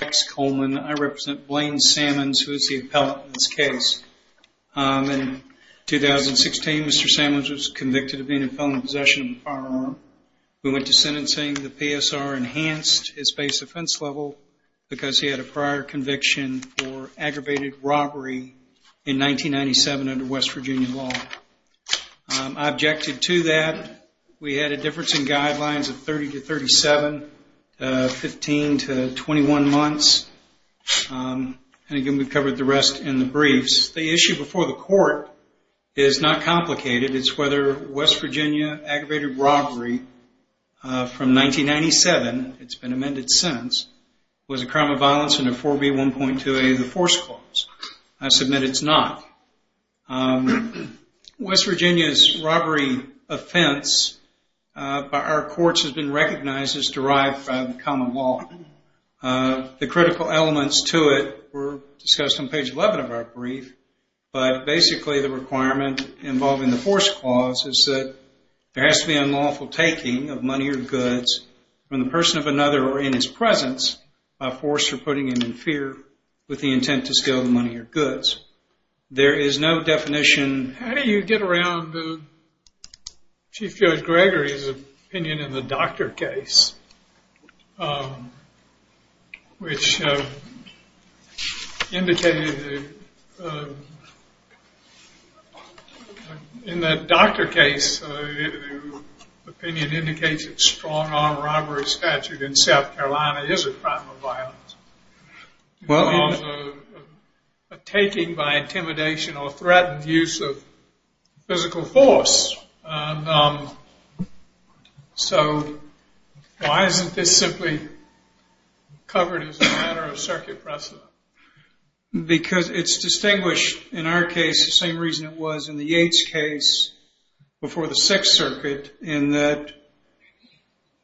I represent Blaine Salmons, who is the appellate in this case. In 2016, Mr. Salmons was convicted of being in felony possession of a firearm. We went to sentencing. The PSR enhanced his base offense level because he had a prior conviction for aggravated robbery in 1997 under West Virginia law. I objected to that. We had a difference in guidelines of 30-37, 15-21 months. And again, we've covered the rest in the briefs. The issue before the court is not complicated. It's whether West Virginia aggravated robbery from 1997, it's been amended since, was a crime of violence under 4B1.2a of the force clause. I believe the offense by our courts has been recognized as derived from common law. The critical elements to it were discussed on page 11 of our brief, but basically the requirement involving the force clause is that there has to be unlawful taking of money or goods from the person of another or in his presence by force or putting him in fear with the intent to steal the money or goods. There is no definition. How do you get around Chief Judge Gregory's opinion in the doctor case, which indicated, in the doctor case, the opinion indicates that strong-arm robbery statute in South Carolina is a crime of violence. Well, a taking by intimidation or threatened use of physical force. So, why isn't this simply covered as a matter of circuit precedent? Because it's distinguished, in our case, the same reason it was in the Yates case before the Sixth Circuit, in that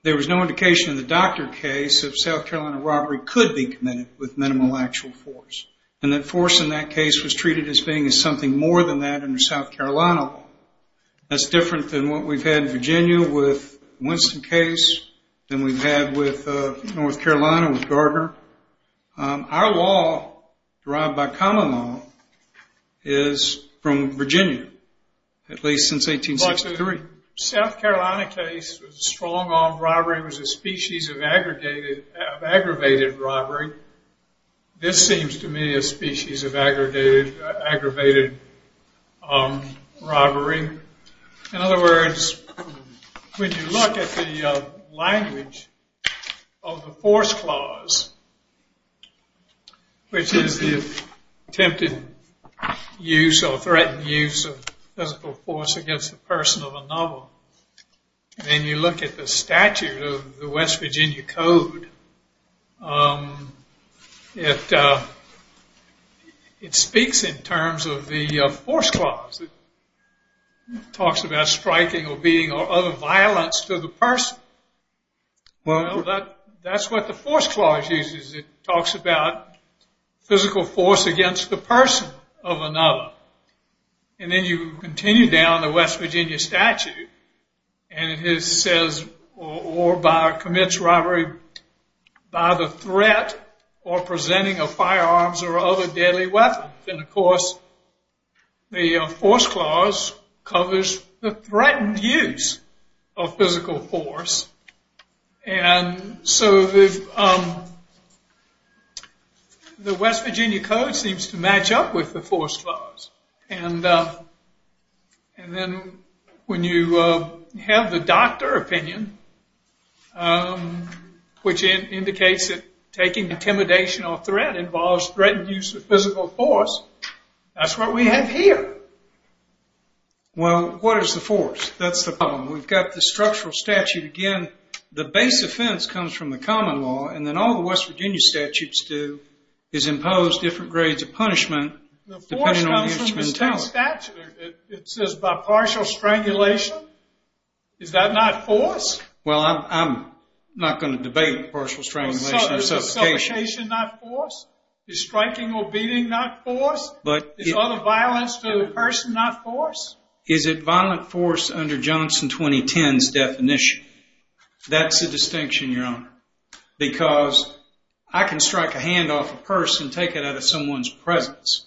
there was no indication in the doctor case of South Carolina robbery could be committed with minimal actual force. And that force in that case was treated as being something more than that under South Carolina law. That's different than what we've had in Virginia with Winston case, than we've had with North Carolina with Garber. Our law, derived by common law, is from Virginia, at least since 1863. The South Carolina case was a strong-arm robbery. It was a aggravated robbery. This seems to me a species of aggravated robbery. In other words, when you look at the language of the force clause, which is the attempted use or threatened use of physical force against the person of a novel, and you look at the statute of the West Virginia Code, it speaks in terms of the force clause. It talks about striking or beating or other violence to the person. That's what the force clause uses. It talks about physical force against the person of another. And then you continue down the West Virginia statute, and it says, or commits robbery by the threat or presenting of firearms or other deadly weapon. And of course, the force clause covers the threatened use of physical force. And so the West Virginia Code seems to match up with the force clause. And then when you have the doctor opinion, which indicates that taking intimidation or threat involves threatened use of physical force, that's what we have here. Well, what is the force? That's the problem. We've got the structural statute again. The base offense comes from the common law, and then all the West Virginia statutes do is impose different grades of punishment depending on the instrumentality. The force comes from the state statute. It says by partial strangulation. Is that not force? Well, I'm not going to debate partial strangulation or suffocation. Is suffocation not force? Is striking or beating not force? Is other violence to the person not force? Is it violent force under Johnson 2010's definition? That's a distinction, Your Honor, because I can strike a hand off a person in someone's presence.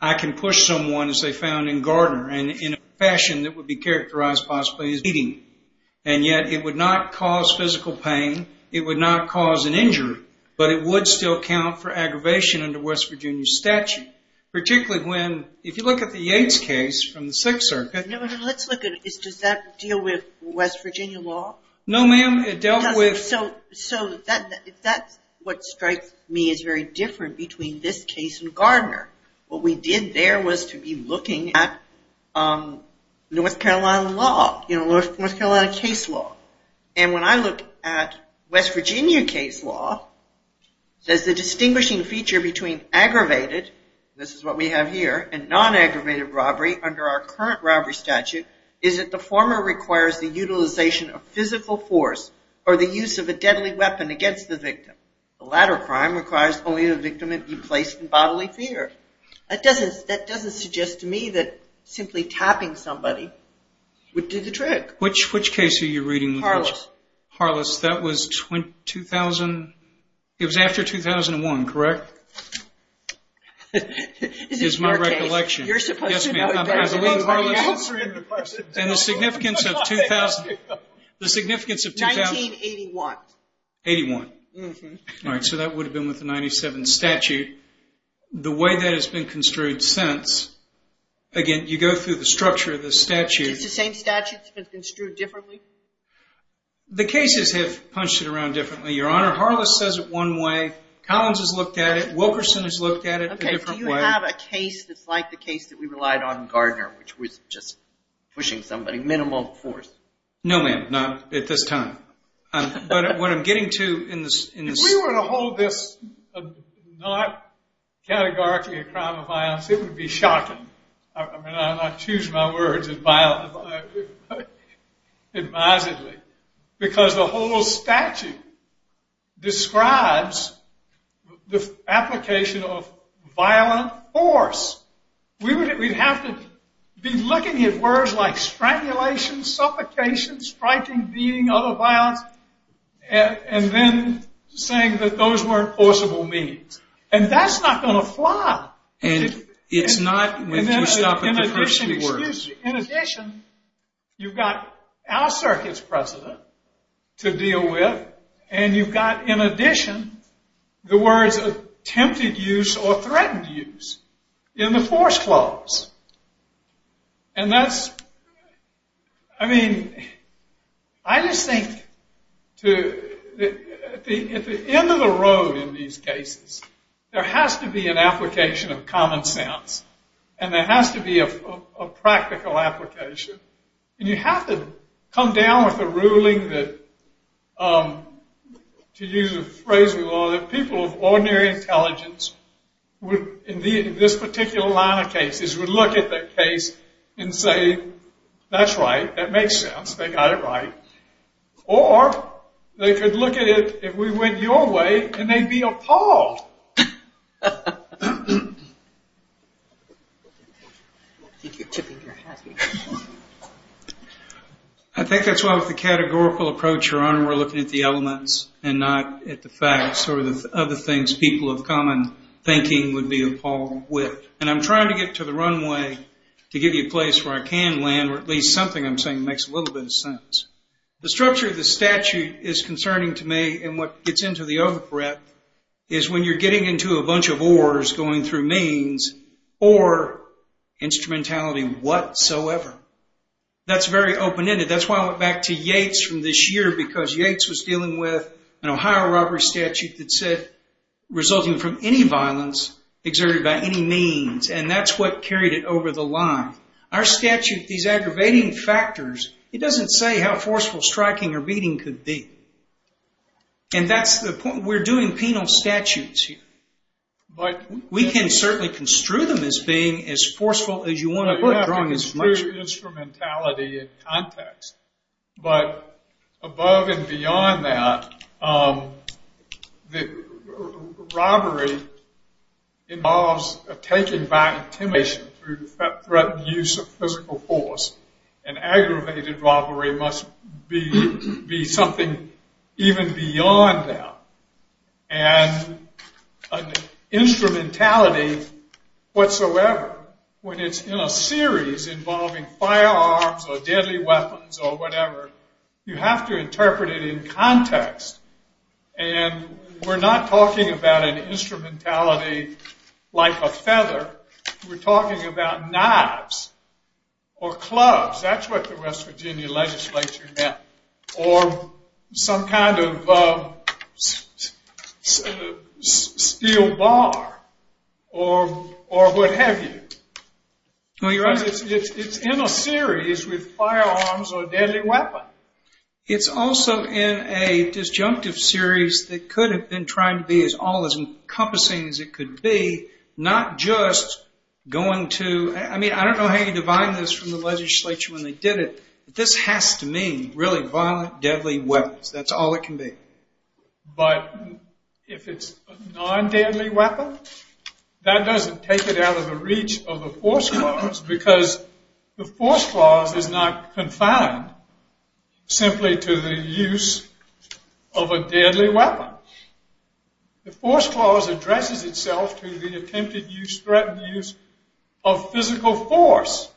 I can push someone, as they found in Gardner, in a fashion that would be characterized possibly as beating. And yet, it would not cause physical pain. It would not cause an injury, but it would still count for aggravation under West Virginia statute. Particularly when, if you look at the Yates case from the Sixth Circuit. Let's look at it. Does that deal with West Virginia law? No, ma'am. It dealt with... So that's what strikes me as very different between this case and Gardner. What we did there was to be looking at North Carolina law, North Carolina case law. And when I look at West Virginia case law, there's a distinguishing feature between aggravated, this is what we have here, and non-aggravated robbery under our current robbery statute. Is that the former requires the utilization of physical force or the use of a deadly weapon against the victim. The latter crime requires only the victim be placed in bodily fear. That doesn't suggest to me that simply tapping somebody would do the trick. Which case are you reading? Harless. Harless. That was after 2001, correct? Is my recollection. Yes, ma'am. I believe Harless. And the significance of... 1981. All right, so that would have been with the 97 statute. The way that has been construed since, again, you go through the structure of the statute. Is it the same statute that's been construed differently? The cases have punched it around differently, Your Honor. Harless says it one way. Collins has looked at it. Wilkerson has looked at it a different way. Do you have a case that's like the case that we relied on Gardner, which was just pushing somebody minimal force? No, ma'am. Not at this time. But what I'm getting to in this... Not categorically a crime of violence. It would be shocking. I mean, I choose my words advisedly. Because the whole statute describes the application of violent force. We'd have to be looking at words like strangulation, suffocation, striking, beating, other violence, and then saying that those weren't forcible means. And that's not going to fly. And it's not when you stop at the first three words. In addition, you've got our circuit's precedent to deal with. And you've got, in addition, the words attempted use or threatened use in the force clause. And that's, I mean, I just think at the end of the road in these cases, there has to be an application of common sense. And there has to be a practical application. And you have to come down with a ruling that, to use a phrase we love, that people of ordinary intelligence would, in this particular line of cases, would look at that case and say, that's right, that makes sense, they got it right. Or they could look at it, if we went your way, and they'd be appalled. I think that's why with the categorical approach, Your Honor, we're looking at the elements and not at the facts or the other things people of common thinking would be appalled with. And I'm trying to get to the runway to give you a place where I can land where at least something I'm saying makes a little bit of sense. The structure of the statute is concerning to me, and what gets into the overbreadth, is when you're getting into a bunch of ors going through means or instrumentality whatsoever. That's very open-ended. That's why I went back to Yates from this year, because Yates was dealing with an Ohio robbery statute that said, resulting from any violence exerted by any means. And that's what carried it over the line. Our statute, these aggravating factors, it doesn't say how forceful striking or beating could be. And that's the point, we're doing penal statutes here. We can certainly construe them as being as forceful as you want to put it. Through instrumentality and context. But above and beyond that, robbery involves a taking by intimidation through the threat and use of physical force. An aggravated robbery must be something even beyond that. And instrumentality whatsoever, when it's in a series involving firearms or deadly weapons or whatever, you have to interpret it in context. And we're not talking about an instrumentality like a feather. We're talking about knives or clubs. That's what the West Virginia legislature meant. Or some kind of steel bar or what have you. It's in a series with firearms or deadly weapons. It's also in a disjunctive series that could have been trying to be as all encompassing as it could be, not just going to, I mean, I don't know how you divine this from the legislature when they did it, but this has to mean really violent, deadly weapons. That's all it can be. But if it's a non-deadly weapon, that doesn't take it out of the reach of the force clause because the force clause is not confined simply to the use of a deadly weapon. The force clause addresses itself to the attempted use, threatened use of physical force.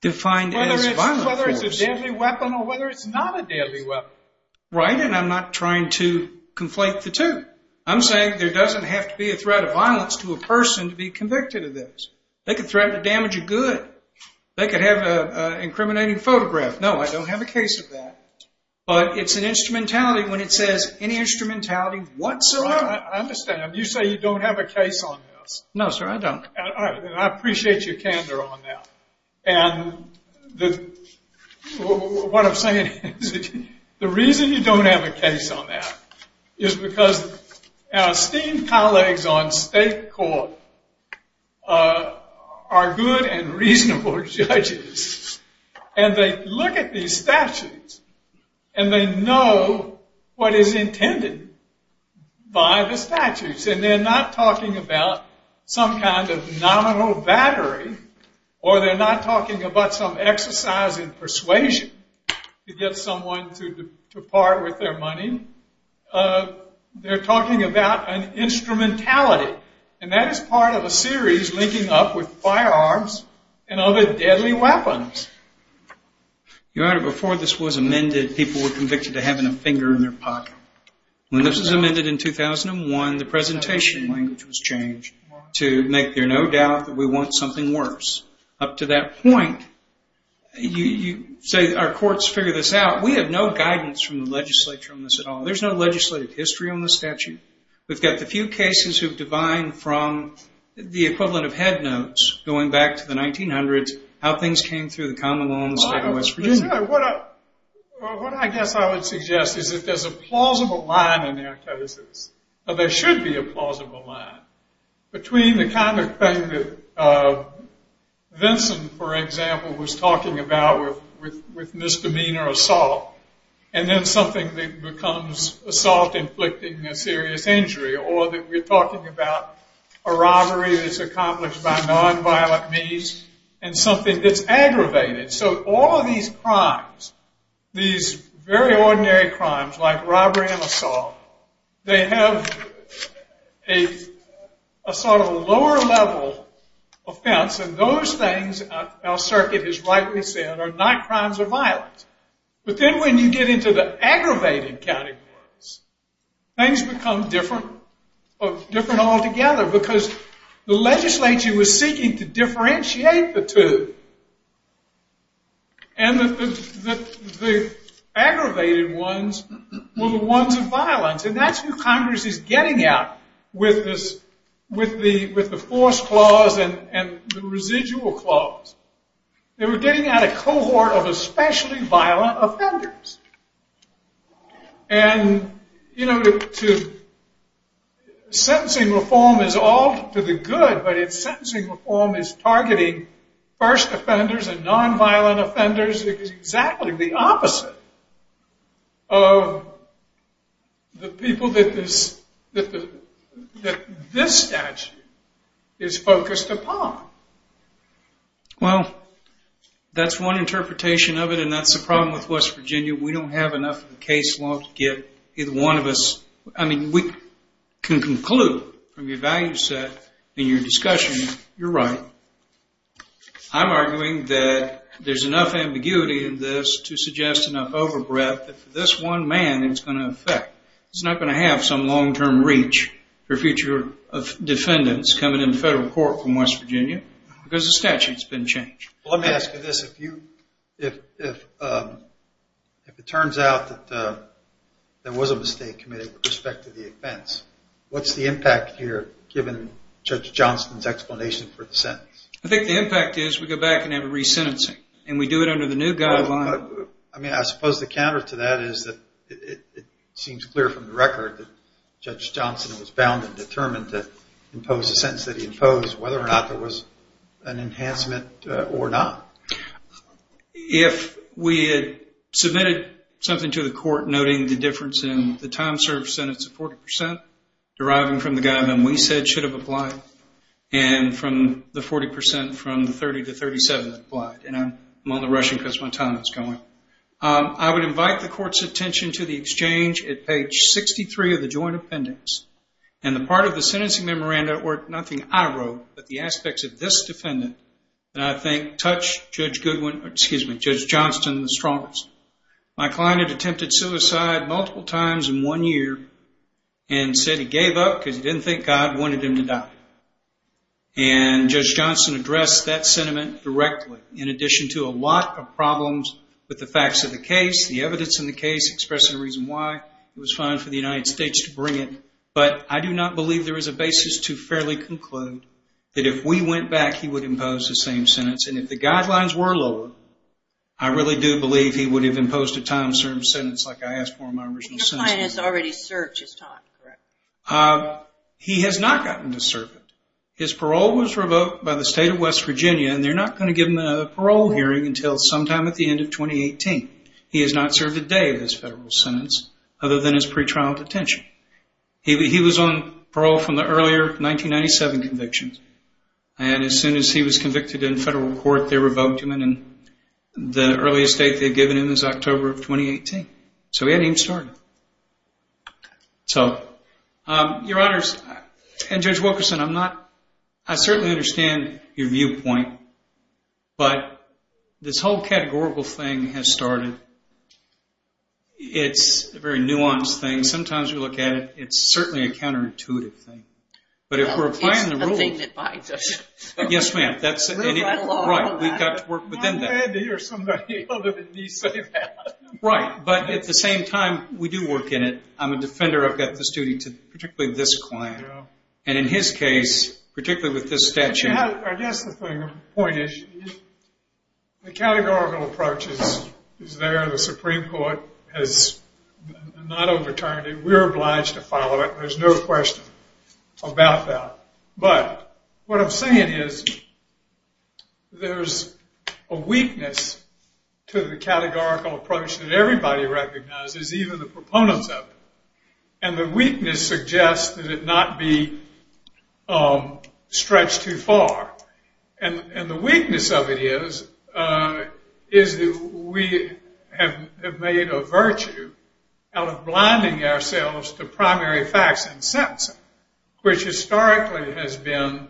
Defined as violent force. Whether it's a deadly weapon or whether it's not a deadly weapon. Right, and I'm not trying to conflate the two. I'm saying there doesn't have to be a threat of violence to a person to be convicted of this. They could threaten to damage a good. They could have an incriminating photograph. No, I don't have a case of that. But it's an instrumentality when it says any instrumentality whatsoever. I understand. You say you don't have a case on this. No, sir, I don't. I appreciate your candor on that. And what I'm saying is the reason you don't have a case on that is because our esteemed colleagues on state court are good and reasonable judges. And they look at these statutes and they know what is intended by the statutes. And they're not talking about some kind of nominal battery. Or they're not talking about some exercise in persuasion to get someone to part with their money. They're talking about an instrumentality. And that is part of a series linking up with firearms and other deadly weapons. Your Honor, before this was amended, people were convicted of having a finger in their pocket. When this was amended in 2001, the presentation language was changed to make there no doubt that we want something worse. Up to that point, you say our courts figure this out. We have no guidance from the legislature on this at all. There's no legislative history on this statute. We've got the few cases who've divined from the equivalent of head notes going back to the 1900s how things came through the common law in the state of West Virginia. Your Honor, what I guess I would suggest is that there's a plausible line in their cases, or there should be a plausible line, between the kind of thing that Vincent, for example, was talking about with misdemeanor assault, and then something that becomes assault inflicting a serious injury, or that we're talking about a robbery that's accomplished by nonviolent means and something that's aggravated. So all of these crimes, these very ordinary crimes like robbery and assault, they have a sort of lower level offense, and those things, our circuit has rightly said, are not crimes of violence. But then when you get into the aggravated categories, things become different altogether, because the legislature was seeking to differentiate the two. And the aggravated ones were the ones of violence, and that's who Congress is getting at with the force clause and the residual clause. They were getting at a cohort of especially violent offenders. And, you know, sentencing reform is all for the good, but if sentencing reform is targeting first offenders and nonviolent offenders, it's exactly the opposite of the people that this statute is focused upon. Well, that's one interpretation of it, and that's the problem with West Virginia. We don't have enough of a case law to get either one of us. I mean, we can conclude from your value set and your discussion, you're right. I'm arguing that there's enough ambiguity in this to suggest enough overbreath that for this one man, it's going to affect. It's not going to have some long-term reach for future defendants coming into federal court from West Virginia, because the statute's been changed. Well, let me ask you this. If it turns out that there was a mistake committed with respect to the offense, what's the impact here given Judge Johnston's explanation for the sentence? I think the impact is we go back and have a resentencing, and we do it under the new guideline. I mean, I suppose the counter to that is that it seems clear from the record that Judge Johnston was bound and determined to impose the sentence that he imposed, whether or not there was an enhancement or not. If we had submitted something to the court noting the difference in the time served sentence of 40 percent, deriving from the guideline we said should have applied, and from the 40 percent from the 30 to 37 that applied, and I'm only rushing because my time is going, I would invite the court's attention to the exchange at page 63 of the joint appendix, and the part of the sentencing memoranda or nothing I wrote, but the aspects of this defendant, that I think touch Judge Johnston the strongest. My client had attempted suicide multiple times in one year and said he gave up because he didn't think God wanted him to die. And Judge Johnston addressed that sentiment directly in addition to a lot of problems with the facts of the case, the evidence in the case, expressing a reason why it was fine for the United States to bring it. But I do not believe there is a basis to fairly conclude that if we went back, he would impose the same sentence. And if the guidelines were lower, I really do believe he would have imposed a time-served sentence like I asked for in my original sentence. Your client has already served his time, correct? He has not gotten to serve it. His parole was revoked by the state of West Virginia, and they're not going to give him a parole hearing until sometime at the end of 2018. He has not served a day of his federal sentence other than his pretrial detention. He was on parole from the earlier 1997 convictions, and as soon as he was convicted in federal court, they revoked him, and the earliest date they had given him is October of 2018. So he hadn't even started. So, Your Honors, and Judge Wilkerson, I certainly understand your viewpoint, but this whole categorical thing has started. It's a very nuanced thing. Sometimes you look at it, it's certainly a counterintuitive thing. But if we're applying the rule... It's a thing that binds us. Yes, ma'am. We've got to work within that. I'm glad to hear somebody other than me say that. Right, but at the same time, we do work in it. I'm a defender. I've got this duty to particularly this client. And in his case, particularly with this statute... I guess the point is the categorical approach is there. The Supreme Court has not overturned it. We're obliged to follow it. There's no question about that. But what I'm saying is there's a weakness to the categorical approach that everybody recognizes, even the proponents of it. And the weakness suggests that it not be stretched too far. And the weakness of it is that we have made a virtue out of blinding ourselves to primary facts and sentencing, which historically has been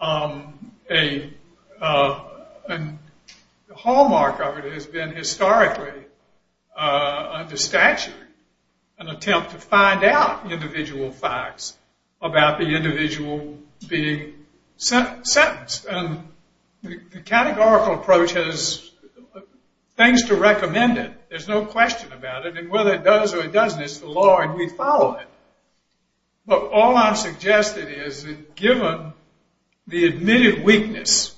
a hallmark of it. It has been historically, under statute, an attempt to find out individual facts about the individual being sentenced. And the categorical approach has things to recommend it. There's no question about it. And whether it does or it doesn't, it's the law and we follow it. But all I'm suggesting is that given the admitted weakness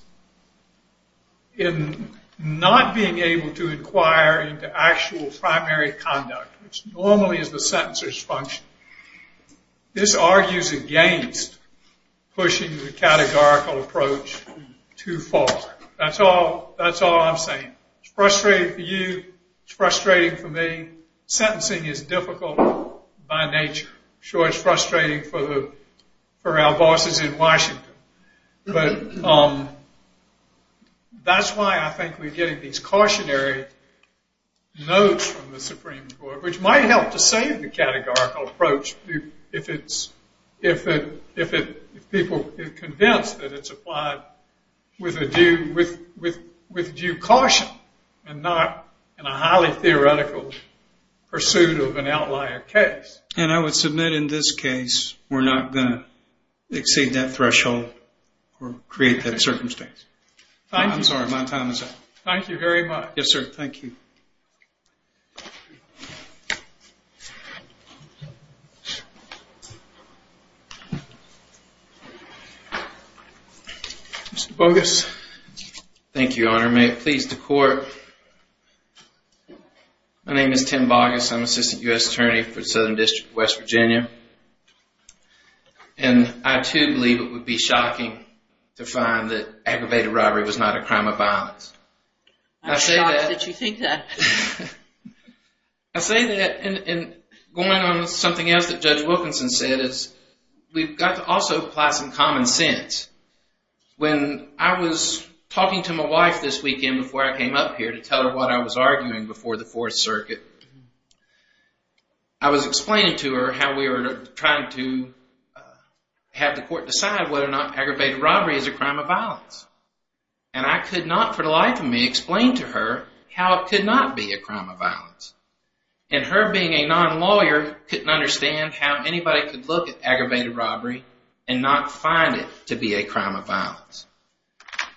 in not being able to inquire into actual primary conduct, which normally is the sentencer's function, this argues against pushing the categorical approach too far. That's all I'm saying. It's frustrating for you. It's frustrating for me. Sentencing is difficult by nature. Sure, it's frustrating for our bosses in Washington. But that's why I think we're getting these cautionary notes from the Supreme Court, which might help to save the categorical approach if people are in a highly theoretical pursuit of an outlier case. And I would submit in this case we're not going to exceed that threshold or create that circumstance. Thank you. I'm sorry, my time is up. Thank you very much. Yes, sir. Thank you. Mr. Bogus. Thank you, Your Honor. May it please the court. My name is Tim Bogus. I'm Assistant U.S. Attorney for the Southern District of West Virginia. And I, too, believe it would be shocking to find that aggravated robbery was not a crime of violence. I'm shocked that you think that. I say that and going on with something else that Judge Wilkinson said is we've got to also apply some common sense. When I was talking to my wife this weekend before I came up here to tell her what I was arguing before the Fourth Circuit, I was explaining to her how we were trying to have the court decide whether or not aggravated robbery is a crime of violence. And I could not for the life of me explain to her how it could not be a crime of violence. And her being a non-lawyer couldn't understand how anybody could look at aggravated robbery as being a crime of violence.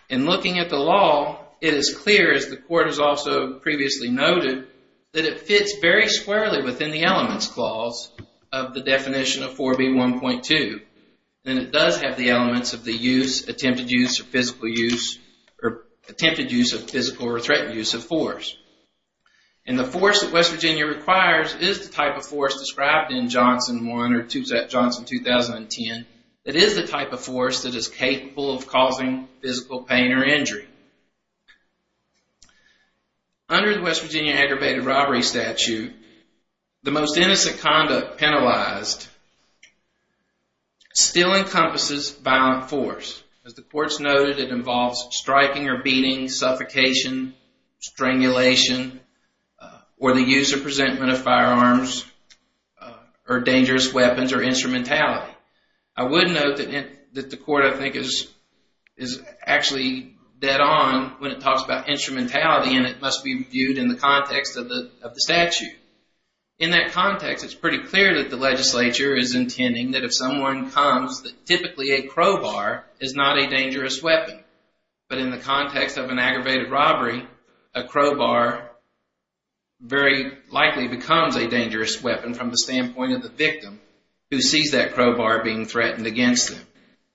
In looking at the law, it is clear, as the court has also previously noted, that it fits very squarely within the elements clause of the definition of 4B1.2. And it does have the elements of the use, attempted use, or physical use, or attempted use of physical or threatened use of force. And the force that West Virginia requires is the type of force described in Johnson 1, or Johnson 2010, that is the type of force that is capable of causing physical pain or injury. Under the West Virginia aggravated robbery statute, the most innocent conduct penalized still encompasses violent force. As the courts noted, it involves striking or beating, suffocation, strangulation, or the use or presentment of firearms, or dangerous weapons, or instrumentality. I would note that the court, I think, is actually dead on when it talks about instrumentality, and it must be viewed in the context of the statute. In that context, it's pretty clear that the legislature is intending that if someone comes, that typically a crowbar is not a dangerous weapon. But in the context of an aggravated robbery, a crowbar very likely becomes a dangerous weapon from the standpoint of the victim who sees that crowbar being threatened against them.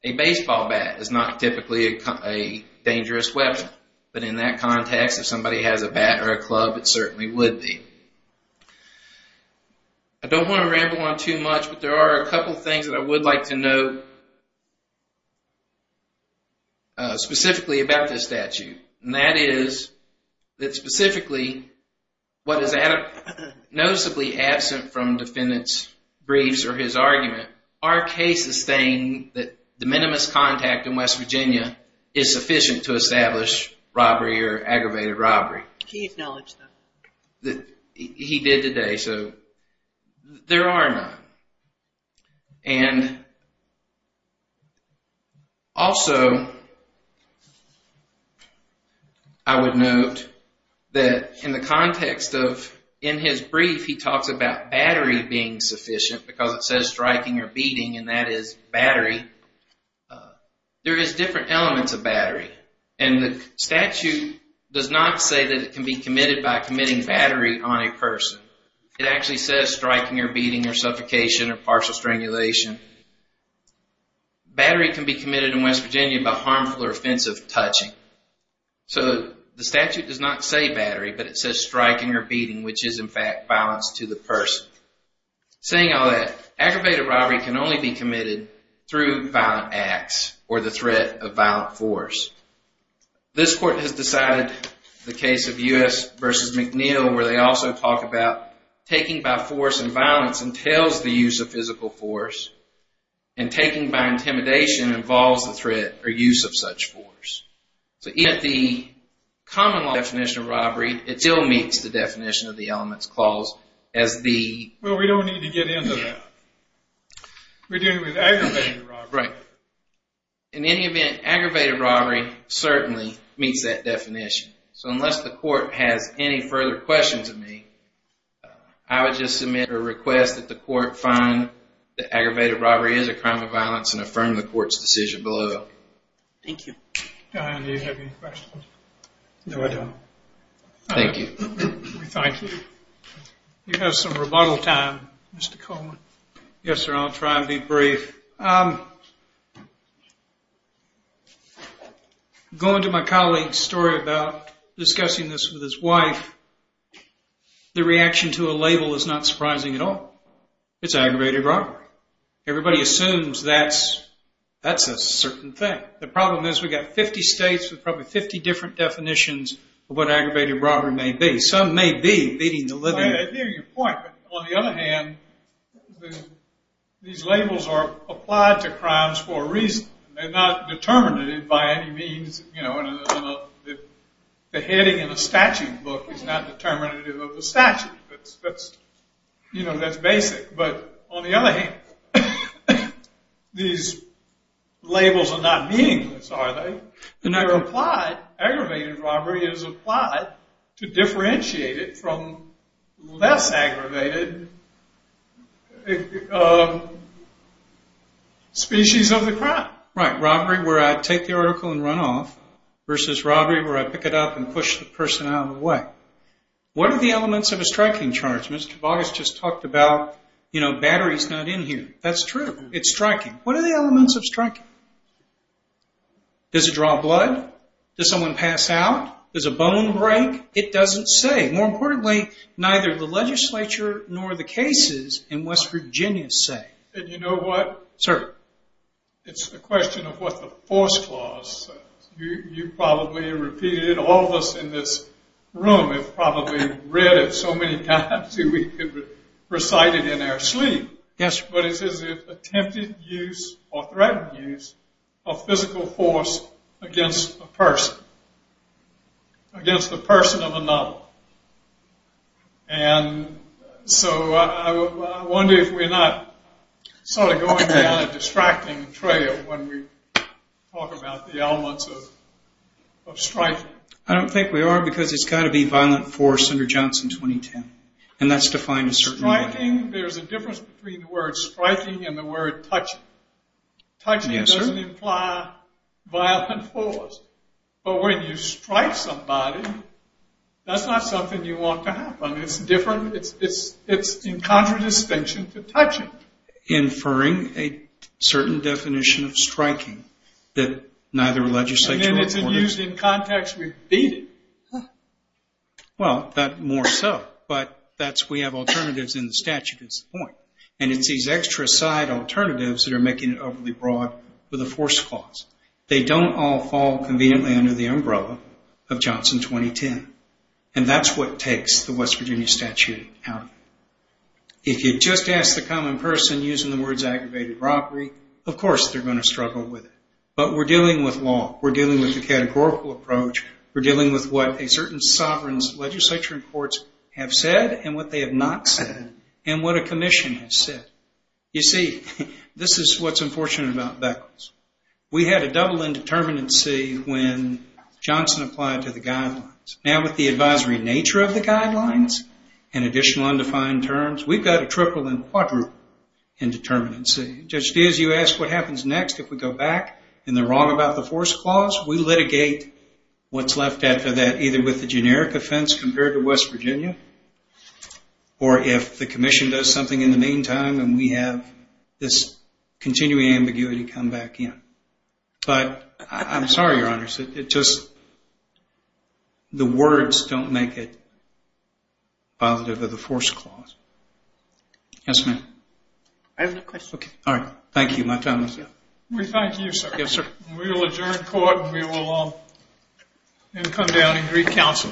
A baseball bat is not typically a dangerous weapon. But in that context, if somebody has a bat or a club, it certainly would be. I don't want to ramble on too much, but there are a couple things that I would like to note specifically about this statute, and that is that specifically what is noticeably absent from defendant's briefs or his argument are cases saying that the minimus contact in West Virginia is sufficient to establish robbery or aggravated robbery. He acknowledged that. He did today, so there are none. Also, I would note that in the context of in his brief, he talks about battery being sufficient because it says striking or beating, and that is battery. There is different elements of battery, and the statute does not say that it can be committed by committing battery on a person. It actually says striking or beating or suffocation or partial strangulation. Battery can be committed in West Virginia by harmful or offensive touching. So the statute does not say battery, but it says striking or beating, which is in fact violence to the person. Saying all that, aggravated robbery can only be committed through violent acts or the threat of violent force. This court has decided the case of U.S. v. McNeil where they also talk about taking by force and violence entails the use of physical force, and taking by intimidation involves the threat or use of such force. So even at the common law definition of robbery, it still meets the definition of the elements clause as the... Well, we don't need to get into that. We're dealing with aggravated robbery. Right. In any event, aggravated robbery certainly meets that definition. So unless the court has any further questions of me, I would just submit or request that the court find that aggravated robbery is a crime of violence and affirm the court's decision below. Thank you. Diane, do you have any questions? No, I don't. Thank you. We thank you. You have some rebuttal time, Mr. Coleman. Yes, sir. I'll try and be brief. Going to my colleague's story about discussing this with his wife, the reaction to a label is not surprising at all. It's aggravated robbery. Everybody assumes that's a certain thing. The problem is we've got 50 states with probably 50 different definitions of what aggravated robbery may be. Some may be beating the living... I hear your point. But on the other hand, these labels are applied to crimes for a reason. They're not determinative by any means. The heading in a statute book is not determinative of the statute. That's basic. But on the other hand, these labels are not meaningless, are they? Aggravated robbery is applied to differentiate it from less aggravated species of the crime. Right. Robbery where I take the article and run off versus robbery where I pick it up and push the person out of the way. What are the elements of a striking charge? Mr. Boggess just talked about batteries not in here. That's true. It's striking. What are the elements of striking? Does it draw blood? Does someone pass out? Does a bone break? It doesn't say. More importantly, neither the legislature nor the cases in West Virginia say. And you know what? Sir? It's a question of what the force clause says. You've probably repeated it. All of us in this room have probably read it so many times that we could recite it in our sleep. Yes, sir. But it says attempted use or threatened use of physical force against a person, against the person of another. And so I wonder if we're not sort of going down a distracting trail when we talk about the elements of striking. I don't think we are because it's got to be violent force under Johnson 2010, and that's defined a certain way. Striking, there's a difference between the word striking and the word touching. Touching doesn't imply violent force. But when you strike somebody, that's not something you want to happen. It's different. It's in contradistinction to touching. Inferring a certain definition of striking that neither legislature or courts. And then it's used in context repeated. Well, that more so. But that's we have alternatives in the statute is the point. And it's these extra side alternatives that are making it overly broad with a force clause. They don't all fall conveniently under the umbrella of Johnson 2010. And that's what takes the West Virginia statute out of it. If you just ask the common person using the words aggravated robbery, of course they're going to struggle with it. But we're dealing with law. We're dealing with the categorical approach. We're dealing with what a certain sovereign's legislature and courts have said and what they have not said and what a commission has said. You see, this is what's unfortunate about Beckles. We had a double indeterminacy when Johnson applied to the guidelines. Now with the advisory nature of the guidelines and additional undefined terms, we've got a triple and quadruple indeterminacy. Just as you ask what happens next if we go back and they're wrong about the force clause, we litigate what's left after that either with the generic offense compared to West Virginia or if the commission does something in the meantime and we have this continuing ambiguity come back in. But I'm sorry, Your Honors. It's just the words don't make it positive of the force clause. Yes, ma'am. I have a question. All right. Thank you. My time is up. We thank you, sir. Thank you, sir. We will adjourn court and we will come down and greet counsel.